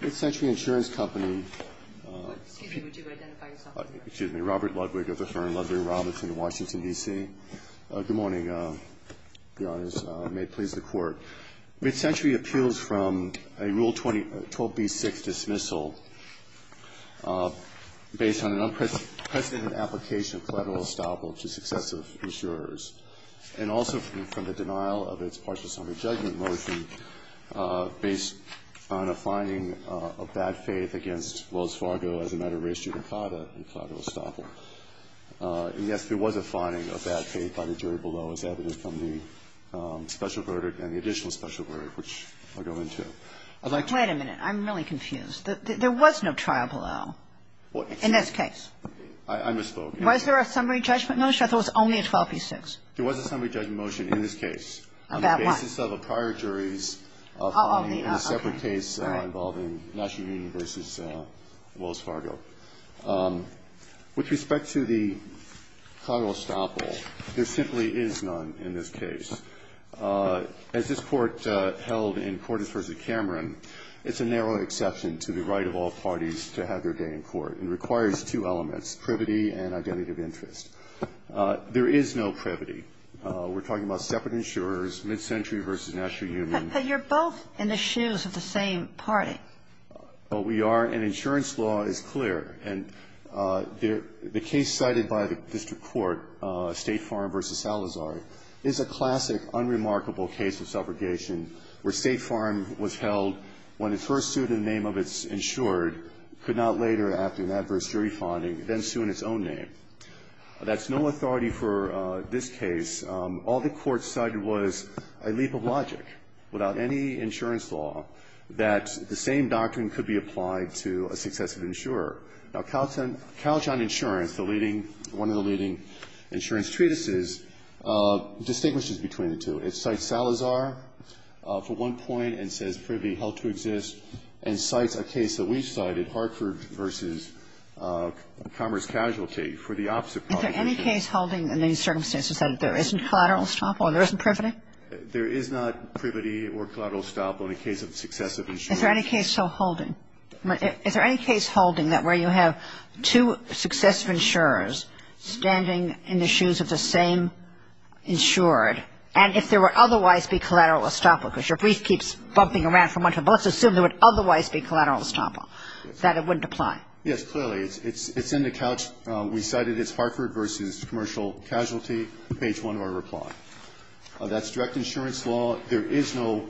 Mid-Century Insurance Company Excuse me, would you identify yourself? Excuse me. Robert Ludwig of the firm Ludwig Robertson in Washington, D.C. Good morning, Your Honors. May it please the Court. Mid-Century appeals from a Rule 12b-6 dismissal based on an unprecedented application of collateral estoppel to successive insurers and also from the denial of its partial summary judgment motion based on a finding of bad faith against Wells Fargo as a matter of race due to collateral estoppel. And, yes, there was a finding of bad faith by the jury below as evidenced from the special verdict and the additional special verdict, which I'll go into. I'd like to Wait a minute. I'm really confused. There was no trial below in this case. I misspoke. Was there a summary judgment motion or there was only a 12b-6? There was a summary judgment motion in this case. About what? On the basis of a prior jury's finding in a separate case involving National Union v. Wells Fargo. With respect to the collateral estoppel, there simply is none in this case. As this Court held in Cordes v. Cameron, it's a narrow exception to the right of all parties to have their day in court. It requires two elements, privity and identity of interest. There is no privity. We're talking about separate insurers, mid-century v. National Union. But you're both in the shoes of the same party. Well, we are, and insurance law is clear. And the case cited by the district court, State Farm v. Salazar, is a classic, unremarkable case of subrogation where State Farm was held when its first student in the name of its insured could not later, after an adverse jury finding, then sue in its own name. That's no authority for this case. All the Court cited was a leap of logic without any insurance law that the same doctrine could be applied to a successive insurer. Now, Calchon Insurance, the leading one of the leading insurance treatises, distinguishes between the two. It cites Salazar for one point and says privity held to exist and cites a case that we've cited, Hartford v. Commerce Casualty, for the opposite cause. Is there any case holding in these circumstances that there isn't collateral estoppel and there isn't privity? There is not privity or collateral estoppel in the case of successive insurers. Is there any case still holding? Is there any case holding that where you have two successive insurers standing in the shoes of the same insured, and if there would otherwise be collateral estoppel, because your brief keeps bumping around from one to the other, but let's assume there would otherwise be collateral estoppel, that it wouldn't apply? Yes, clearly. It's in the couch. We cited it's Hartford v. Commercial Casualty, page 1 of our reply. That's direct insurance law. There is no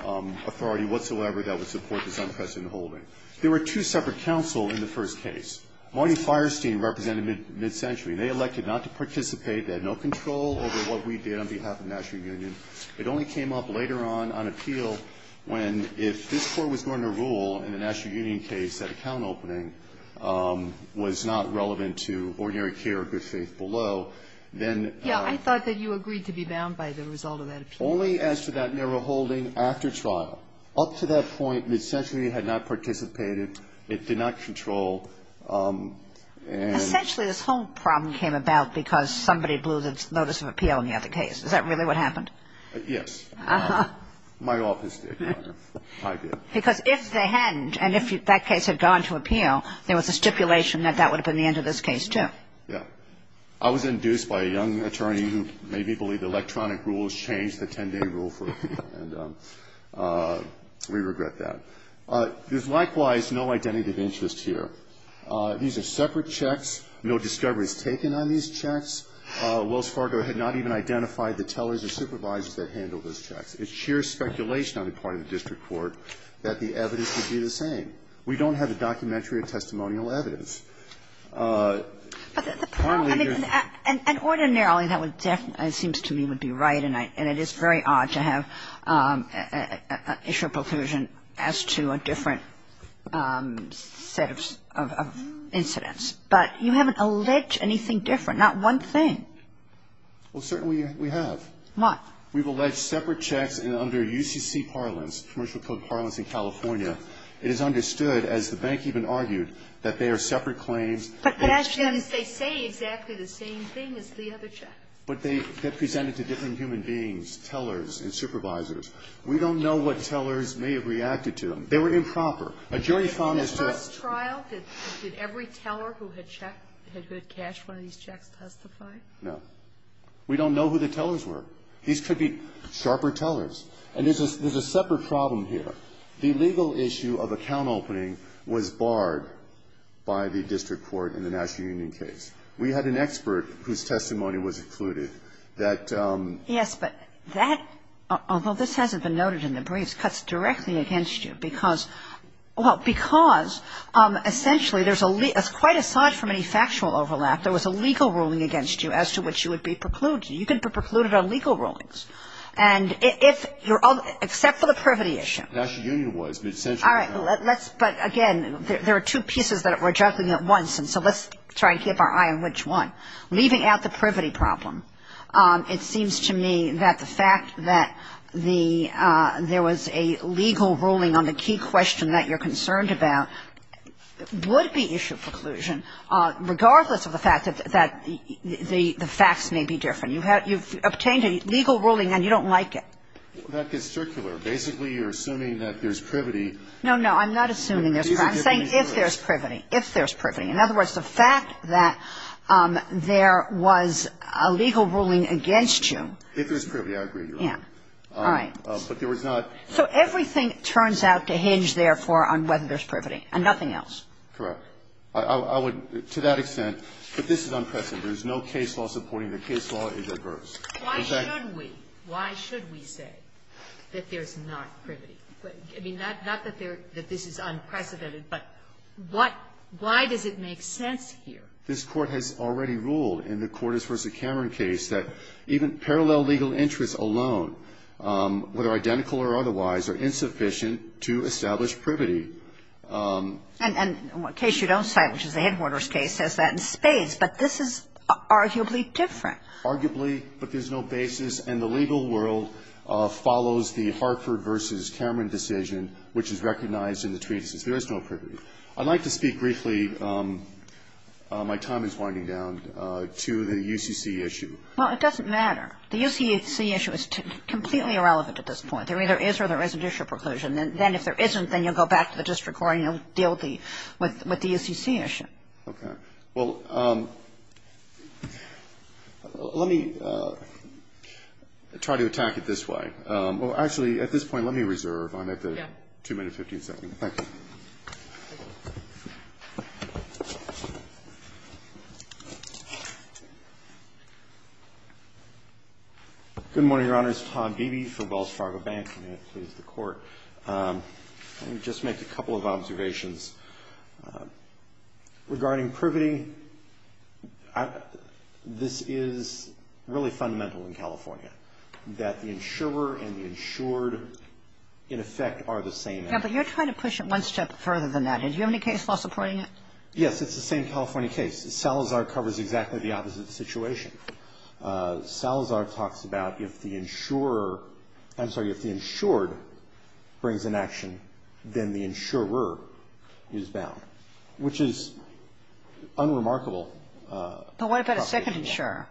authority whatsoever that would support this unprecedented holding. There were two separate counsel in the first case. Marty Fierstein represented MidCentury. They elected not to participate. They had no control over what we did on behalf of the National Union. It only came up later on, on appeal, when if this Court was going to rule in the National Union case that account opening was not relevant to ordinary care or good faith below, then ---- Yeah. I thought that you agreed to be bound by the result of that appeal. Only as to that narrow holding after trial. Up to that point, MidCentury had not participated. It did not control and ---- Essentially, this whole problem came about because somebody blew the notice of appeal in the other case. Is that really what happened? Yes. My office did, Your Honor. I did. Because if they hadn't, and if that case had gone to appeal, there was a stipulation that that would have been the end of this case, too. Yeah. I was induced by a young attorney who made me believe electronic rules changed the 10-day rule for appeal. And we regret that. There's likewise no identity of interest here. These are separate checks. No discovery is taken on these checks. Wells Fargo had not even identified the tellers or supervisors that handled those checks. It's sheer speculation on the part of the district court that the evidence would be the same. We don't have the documentary or testimonial evidence. But the problem ---- And ordinarily, that would definitely, it seems to me, would be right. And it is very odd to have an issue of preclusion as to a different set of incidents. But you haven't alleged anything different, not one thing. Well, certainly we have. What? We've alleged separate checks under UCC parlance, commercial code parlance in California. It is understood, as the bank even argued, that they are separate claims. But they say exactly the same thing as the other checks. But they get presented to different human beings, tellers and supervisors. We don't know what tellers may have reacted to them. They were improper. A jury found this to have ---- In the first trial, did every teller who had checked, who had cashed one of these checks testify? No. We don't know who the tellers were. These could be sharper tellers. And there's a separate problem here. The legal issue of account opening was barred by the district court in the National Union case. We had an expert whose testimony was included that ---- Yes, but that, although this hasn't been noted in the briefs, cuts directly against you because, well, because essentially there's a ---- quite aside from any factual overlap, there was a legal ruling against you as to which you would be precluded. You could be precluded on legal rulings. And if you're ---- except for the privity issue. The National Union was, but essentially ---- All right. Let's ---- but, again, there are two pieces that we're juggling at once. And so let's try and keep our eye on which one. Leaving out the privity problem, it seems to me that the fact that the ---- there was a legal ruling on the key question that you're concerned about would be issue preclusion, regardless of the fact that the facts may be different. You've obtained a legal ruling and you don't like it. That gets circular. Basically, you're assuming that there's privity. No, no. I'm not assuming there's privity. I'm saying if there's privity. If there's privity. In other words, the fact that there was a legal ruling against you. If there's privity, I agree, Your Honor. Yeah. All right. But there was not ---- So everything turns out to hinge, therefore, on whether there's privity and nothing else. Correct. I would, to that extent, that this is unprecedented. There's no case law supporting the case law is adverse. Why should we? Why should we say that there's not privity? I mean, not that they're ---- that this is unprecedented, but what ---- why does it make sense here? This Court has already ruled in the Cordes v. Cameron case that even parallel legal interests alone, whether identical or otherwise, are insufficient to establish privity. And the case you don't cite, which is the Headquarters case, says that in spades. But this is arguably different. Arguably, but there's no basis. And the legal world follows the Hartford v. Cameron decision, which is recognized in the treatise. There is no privity. I'd like to speak briefly, my time is winding down, to the UCC issue. Well, it doesn't matter. The UCC issue is completely irrelevant at this point. There either is or there isn't issue of preclusion. Then if there isn't, then you'll go back to the district court and you'll deal with the UCC issue. All right. Well, let me try to attack it this way. Well, actually, at this point, let me reserve. I'm at the 2 minutes, 15 seconds. Thank you. Good morning, Your Honors. Tom Beebe from Wells Fargo Bank. May it please the Court. Let me just make a couple of observations. Regarding privity, this is really fundamental in California, that the insurer and the insured, in effect, are the same. Yeah, but you're trying to push it one step further than that. Did you have any case law supporting it? Yes, it's the same California case. Salazar covers exactly the opposite situation. Salazar talks about if the insured brings an action, then the insurer is bound, which is unremarkable. But what about a second insurer?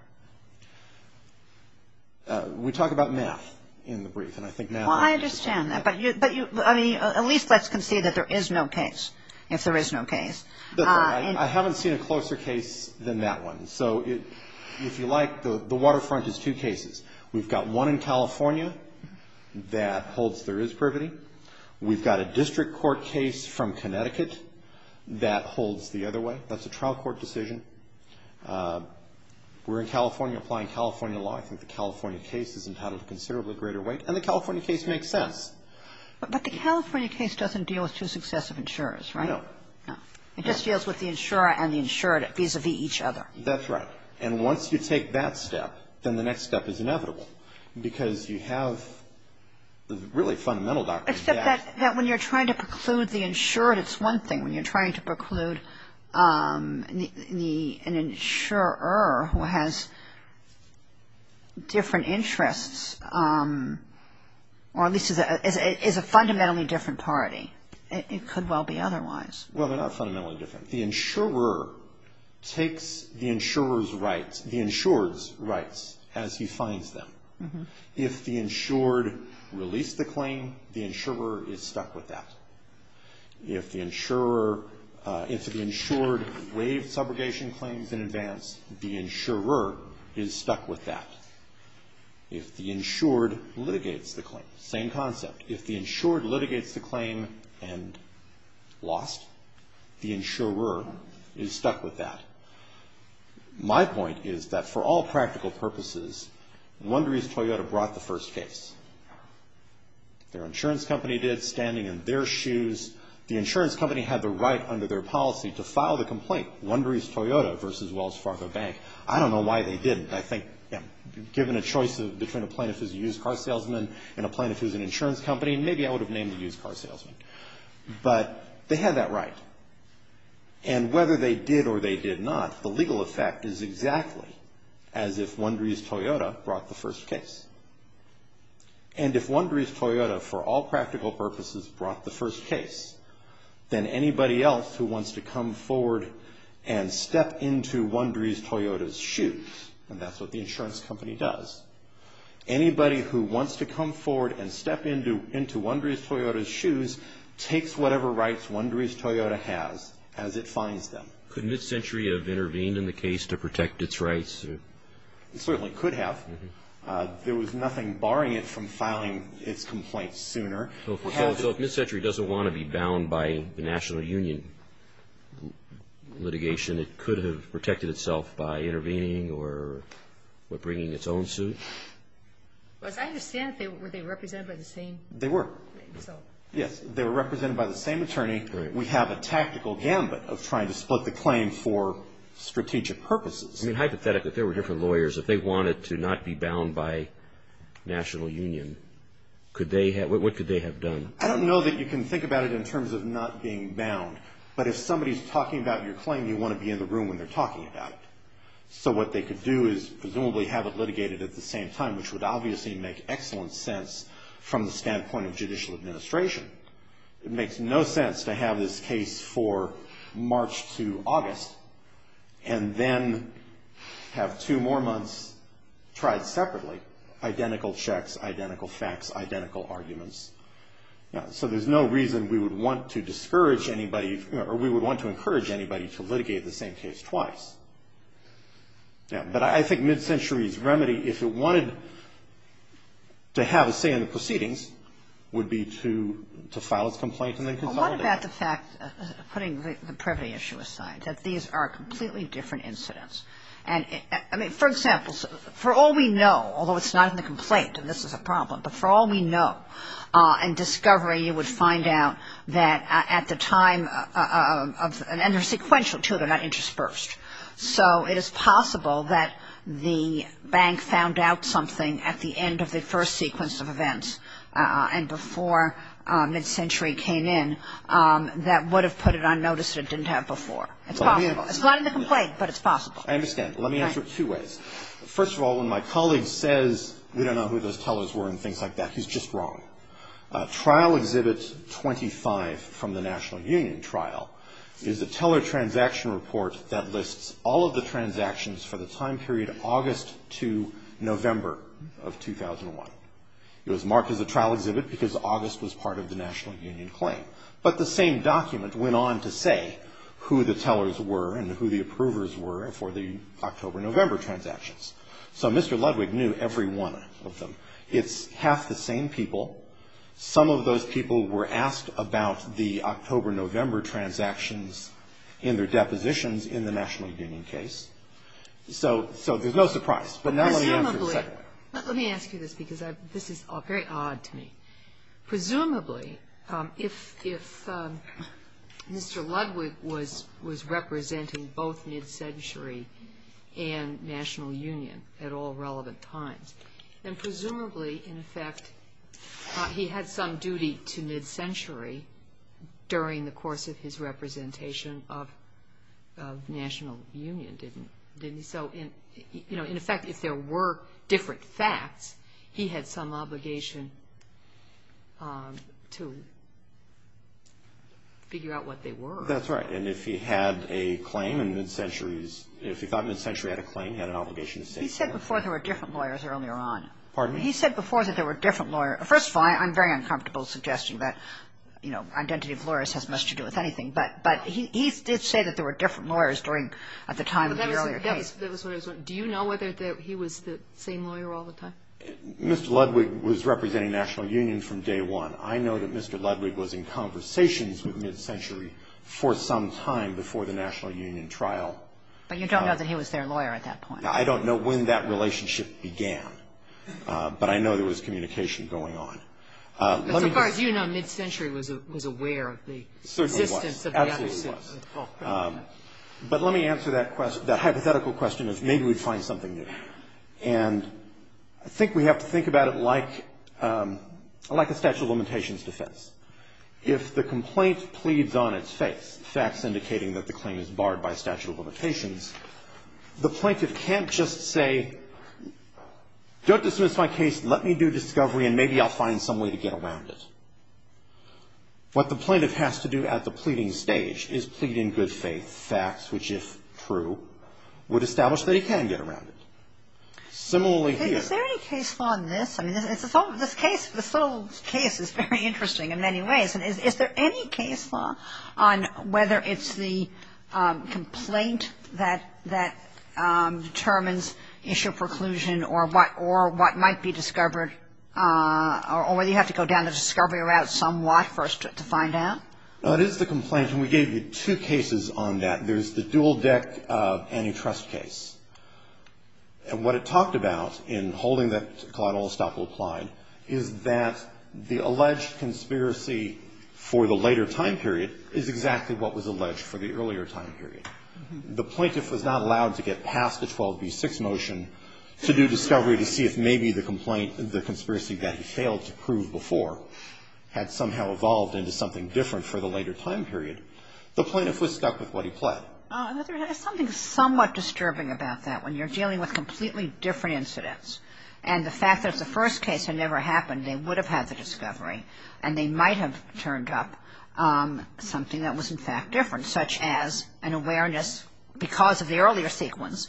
We talk about math in the brief. Well, I understand that, but at least let's concede that there is no case, if there is no case. I haven't seen a closer case than that one. So if you like, the waterfront is two cases. We've got one in California that holds there is privity. We've got a district court case from Connecticut that holds the other way. That's a trial court decision. We're in California applying California law. I think the California case is entitled to considerably greater weight, and the California case makes sense. But the California case doesn't deal with two successive insurers, right? No. It just deals with the insurer and the insured vis-a-vis each other. That's right. And once you take that step, then the next step is inevitable, because you have the really fundamental documents. Except that when you're trying to preclude the insured, it's one thing. When you're trying to preclude an insurer who has different interests, or at least is a fundamentally different party, it could well be otherwise. Well, they're not fundamentally different. The insurer takes the insurer's rights, the insured's rights, as he finds them. If the insured released the claim, the insurer is stuck with that. If the insured waived subrogation claims in advance, the insurer is stuck with that. If the insured litigates the claim, same concept. If the insured litigates the claim and lost, the insurer is stuck with that. My point is that for all practical purposes, Wondery's Toyota brought the first case. Their insurance company did, standing in their shoes. The insurance company had the right under their policy to file the complaint, Wondery's Toyota versus Wells Fargo Bank. I don't know why they didn't. I think given a choice between a plaintiff who's a used car salesman and a plaintiff who's an insurance company, maybe I would have named the used car salesman. But they had that right. And whether they did or they did not, the legal effect is exactly as if Wondery's Toyota brought the first case. And if Wondery's Toyota, for all practical purposes, brought the first case, then anybody else who wants to come forward and step into Wondery's Toyota's shoes, and that's what the insurance company does, anybody who wants to come forward and step into Wondery's Toyota's shoes takes whatever rights Wondery's Toyota has as it fines them. Could MidCentury have intervened in the case to protect its rights? It certainly could have. There was nothing barring it from filing its complaints sooner. So if MidCentury doesn't want to be bound by the national union litigation, it could have protected itself by intervening or bringing its own suit? As I understand it, were they represented by the same? They were. Yes, they were represented by the same attorney. We have a tactical gambit of trying to split the claim for strategic purposes. I mean, hypothetically, if there were different lawyers, if they wanted to not be bound by national union, what could they have done? I don't know that you can think about it in terms of not being bound, but if somebody's talking about your claim, you want to be in the room when they're talking about it. So what they could do is presumably have it litigated at the same time, which would obviously make excellent sense from the standpoint of judicial administration. It makes no sense to have this case for March to August and then have two more months tried separately, identical checks, identical facts, identical arguments. So there's no reason we would want to discourage anybody or we would want to encourage anybody to litigate the same case twice. But I think MidCentury's remedy, if it wanted to have a say in the proceedings, would be to file its complaint and then consolidate it. Let's talk about the fact, putting the privity issue aside, that these are completely different incidents. I mean, for example, for all we know, although it's not in the complaint and this is a problem, but for all we know and discovery, you would find out that at the time of, and they're sequential too, they're not interspersed. So it is possible that the bank found out something at the end of the first sequence of events and before MidCentury came in that would have put it on notice that it didn't have before. It's possible. It's not in the complaint, but it's possible. I understand. Let me answer it two ways. First of all, when my colleague says, we don't know who those tellers were and things like that, he's just wrong. Trial Exhibit 25 from the National Union trial is a teller transaction report that lists all of the transactions for the time period August to November of 2001. It was marked as a trial exhibit because August was part of the National Union claim. But the same document went on to say who the tellers were and who the approvers were for the October-November transactions. So Mr. Ludwig knew every one of them. It's half the same people. Some of those people were asked about the October-November transactions in their depositions in the National Union case. So there's no surprise. But now let me answer your second question. Let me ask you this because this is very odd to me. Presumably, if Mr. Ludwig was representing both mid-century and National Union at all relevant times, then presumably, in effect, he had some duty to mid-century during the course of his representation of National Union, didn't he? So, you know, in effect, if there were different facts, he had some obligation to figure out what they were. That's right. And if he had a claim in mid-centuries, if he thought mid-century had a claim, he had an obligation to say that. He said before there were different lawyers earlier on. Pardon me? He said before that there were different lawyers. First of all, I'm very uncomfortable suggesting that, you know, identity of lawyers has much to do with anything. But he did say that there were different lawyers at the time of the earlier case. That was what I was wondering. Do you know whether he was the same lawyer all the time? Mr. Ludwig was representing National Union from day one. I know that Mr. Ludwig was in conversations with mid-century for some time before the National Union trial. But you don't know that he was their lawyer at that point. I don't know when that relationship began. But I know there was communication going on. But as far as you know, mid-century was aware of the existence of the other system. Certainly was. Absolutely was. But let me answer that hypothetical question of maybe we'd find something new. And I think we have to think about it like a statute of limitations defense. If the complaint pleads on its face, facts indicating that the claim is barred by statute of limitations, the plaintiff can't just say, don't dismiss my case, let me do discovery, and maybe I'll find some way to get around it. What the plaintiff has to do at the pleading stage is plead in good faith, facts which, if true, would establish that he can get around it. Similarly here. Is there any case law on this? I mean, this whole case is very interesting in many ways. Is there any case law on whether it's the complaint that determines issue of preclusion or what might be discovered or whether you have to go down the discovery route somewhat first to find out? No, it is the complaint. And we gave you two cases on that. There's the dual-deck antitrust case. And what it talked about in holding that Clyde Olstoppel applied is that the alleged conspiracy for the later time period is exactly what was alleged for the earlier time period. The plaintiff was not allowed to get past the 12b-6 motion to do discovery to see if maybe the complaint, the conspiracy that he failed to prove before had somehow evolved into something different for the later time period. The plaintiff was stuck with what he pled. There's something somewhat disturbing about that when you're dealing with completely different incidents. And the fact that if the first case had never happened, they would have had the discovery and they might have turned up something that was, in fact, different, such as an awareness because of the earlier sequence.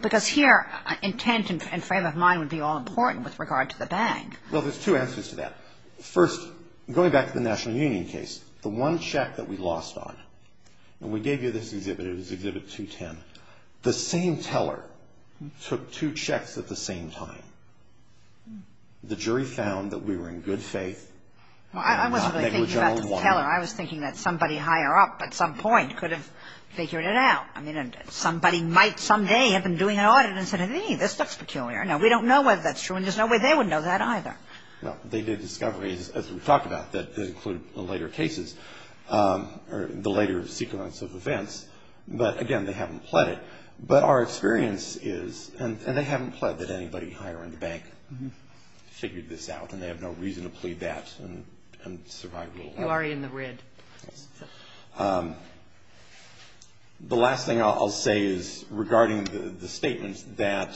Because here, intent and frame of mind would be all important with regard to the bag. Well, there's two answers to that. First, going back to the National Union case, the one check that we lost on, and we gave you this exhibit, it was Exhibit 210, the same teller took two checks at the same time. The jury found that we were in good faith. Well, I wasn't really thinking about the teller. I was thinking that somebody higher up at some point could have figured it out. I mean, somebody might someday have been doing an audit and said, hey, this looks peculiar. Now, we don't know whether that's true and there's no way they would know that either. Well, they did discoveries, as we talked about, that include the later cases or the later sequence of events. But, again, they haven't pled it. But our experience is, and they haven't pled that anybody higher in the bank figured this out, and they have no reason to plead that and survive. You are in the red. The last thing I'll say is regarding the statements that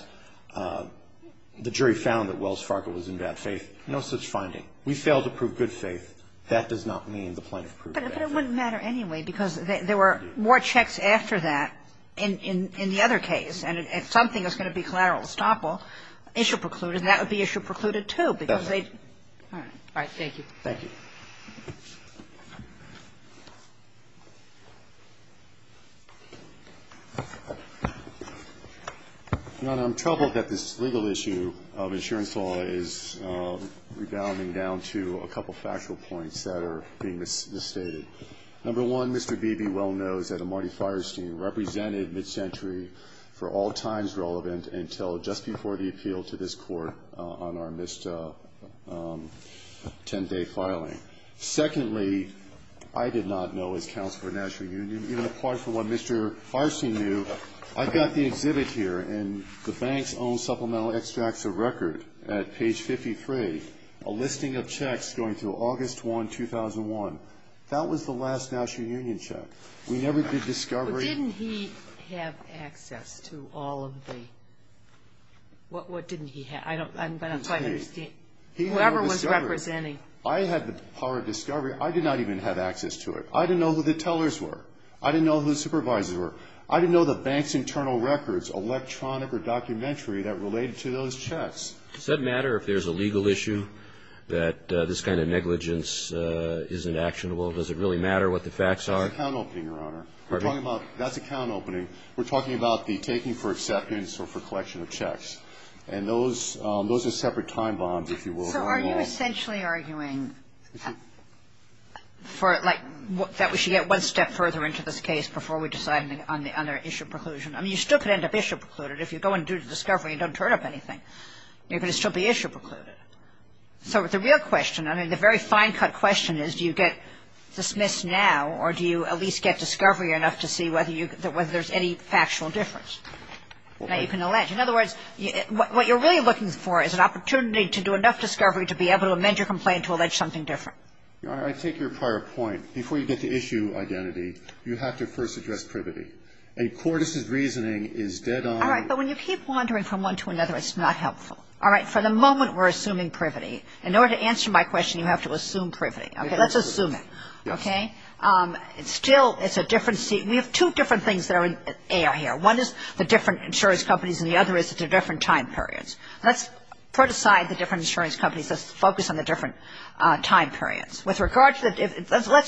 the jury found that Wells Fargo was in bad faith, no such finding. We failed to prove good faith. That does not mean the plaintiff proved it. But it wouldn't matter anyway, because there were more checks after that in the other case. And if something was going to be collateral estoppel, issue precluded, that would be issue precluded, too, because they'd All right. All right. Thank you. Your Honor, I'm troubled that this legal issue of insurance law is rebounding down to a couple of factual points that are being misstated. Number one, Mr. Beebe well knows that a Marty Fierstein represented MidCentury for all times relevant until just before the appeal to this Court on our missed 10-day filing. Secondly, I did not know as Counselor of the National Union, even apart from what Mr. Fierstein knew, I've got the exhibit here and the bank's own supplemental extracts of record at page 53, a listing of checks going through August 1, 2001. That was the last National Union check. We never did discovery. But didn't he have access to all of the what didn't he have? I don't quite understand. He had a discovery. Whoever was representing. I had the power of discovery. I did not even have access to it. I didn't know who the tellers were. I didn't know who the supervisors were. I didn't know the bank's internal records, electronic or documentary, that related to those checks. Does that matter if there's a legal issue that this kind of negligence isn't actionable? Does it really matter what the facts are? That's account opening, Your Honor. Pardon me? That's account opening. We're talking about the taking for acceptance or for collection of checks. And those are separate time bombs, if you will. So are you essentially arguing for like that we should get one step further into this case before we decide on the other issue preclusion? I mean, you still could end up issue precluded. If you go and do the discovery, you don't turn up anything. You're going to still be issue precluded. So the real question, I mean, the very fine-cut question is do you get dismissed now or do you at least get discovery enough to see whether there's any factual difference that you can allege? In other words, what you're really looking for is an opportunity to do enough discovery to be able to amend your complaint to allege something different. Your Honor, I take your prior point. Before you get to issue identity, you have to first address privity. And Cordis's reasoning is dead on. All right. But when you keep wandering from one to another, it's not helpful. All right. For the moment, we're assuming privity. In order to answer my question, you have to assume privity. Okay. Let's assume it. Yes. Okay? Still, it's a different scene. We have two different things that are in the air here. One is the different insurance companies and the other is the different time periods. Let's put aside the different insurance companies. Let's focus on the different time periods. Let's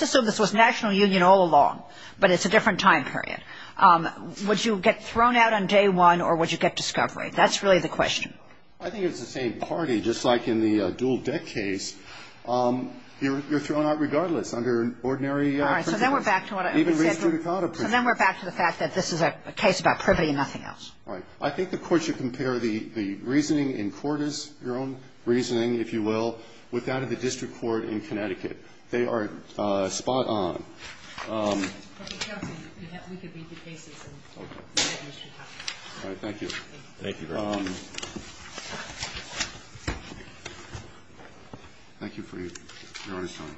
assume this was national union all along, but it's a different time period. Would you get thrown out on day one or would you get discovery? That's really the question. I think it's the same party. Just like in the dual-debt case, you're thrown out regardless under ordinary principles. All right. So then we're back to what I said. It's about privity and nothing else. All right. I think the Court should compare the reasoning in Cordes, your own reasoning, if you will, with that of the district court in Connecticut. They are spot on. All right. Thank you. Thank you very much. Thank you for your honest time. Thank you.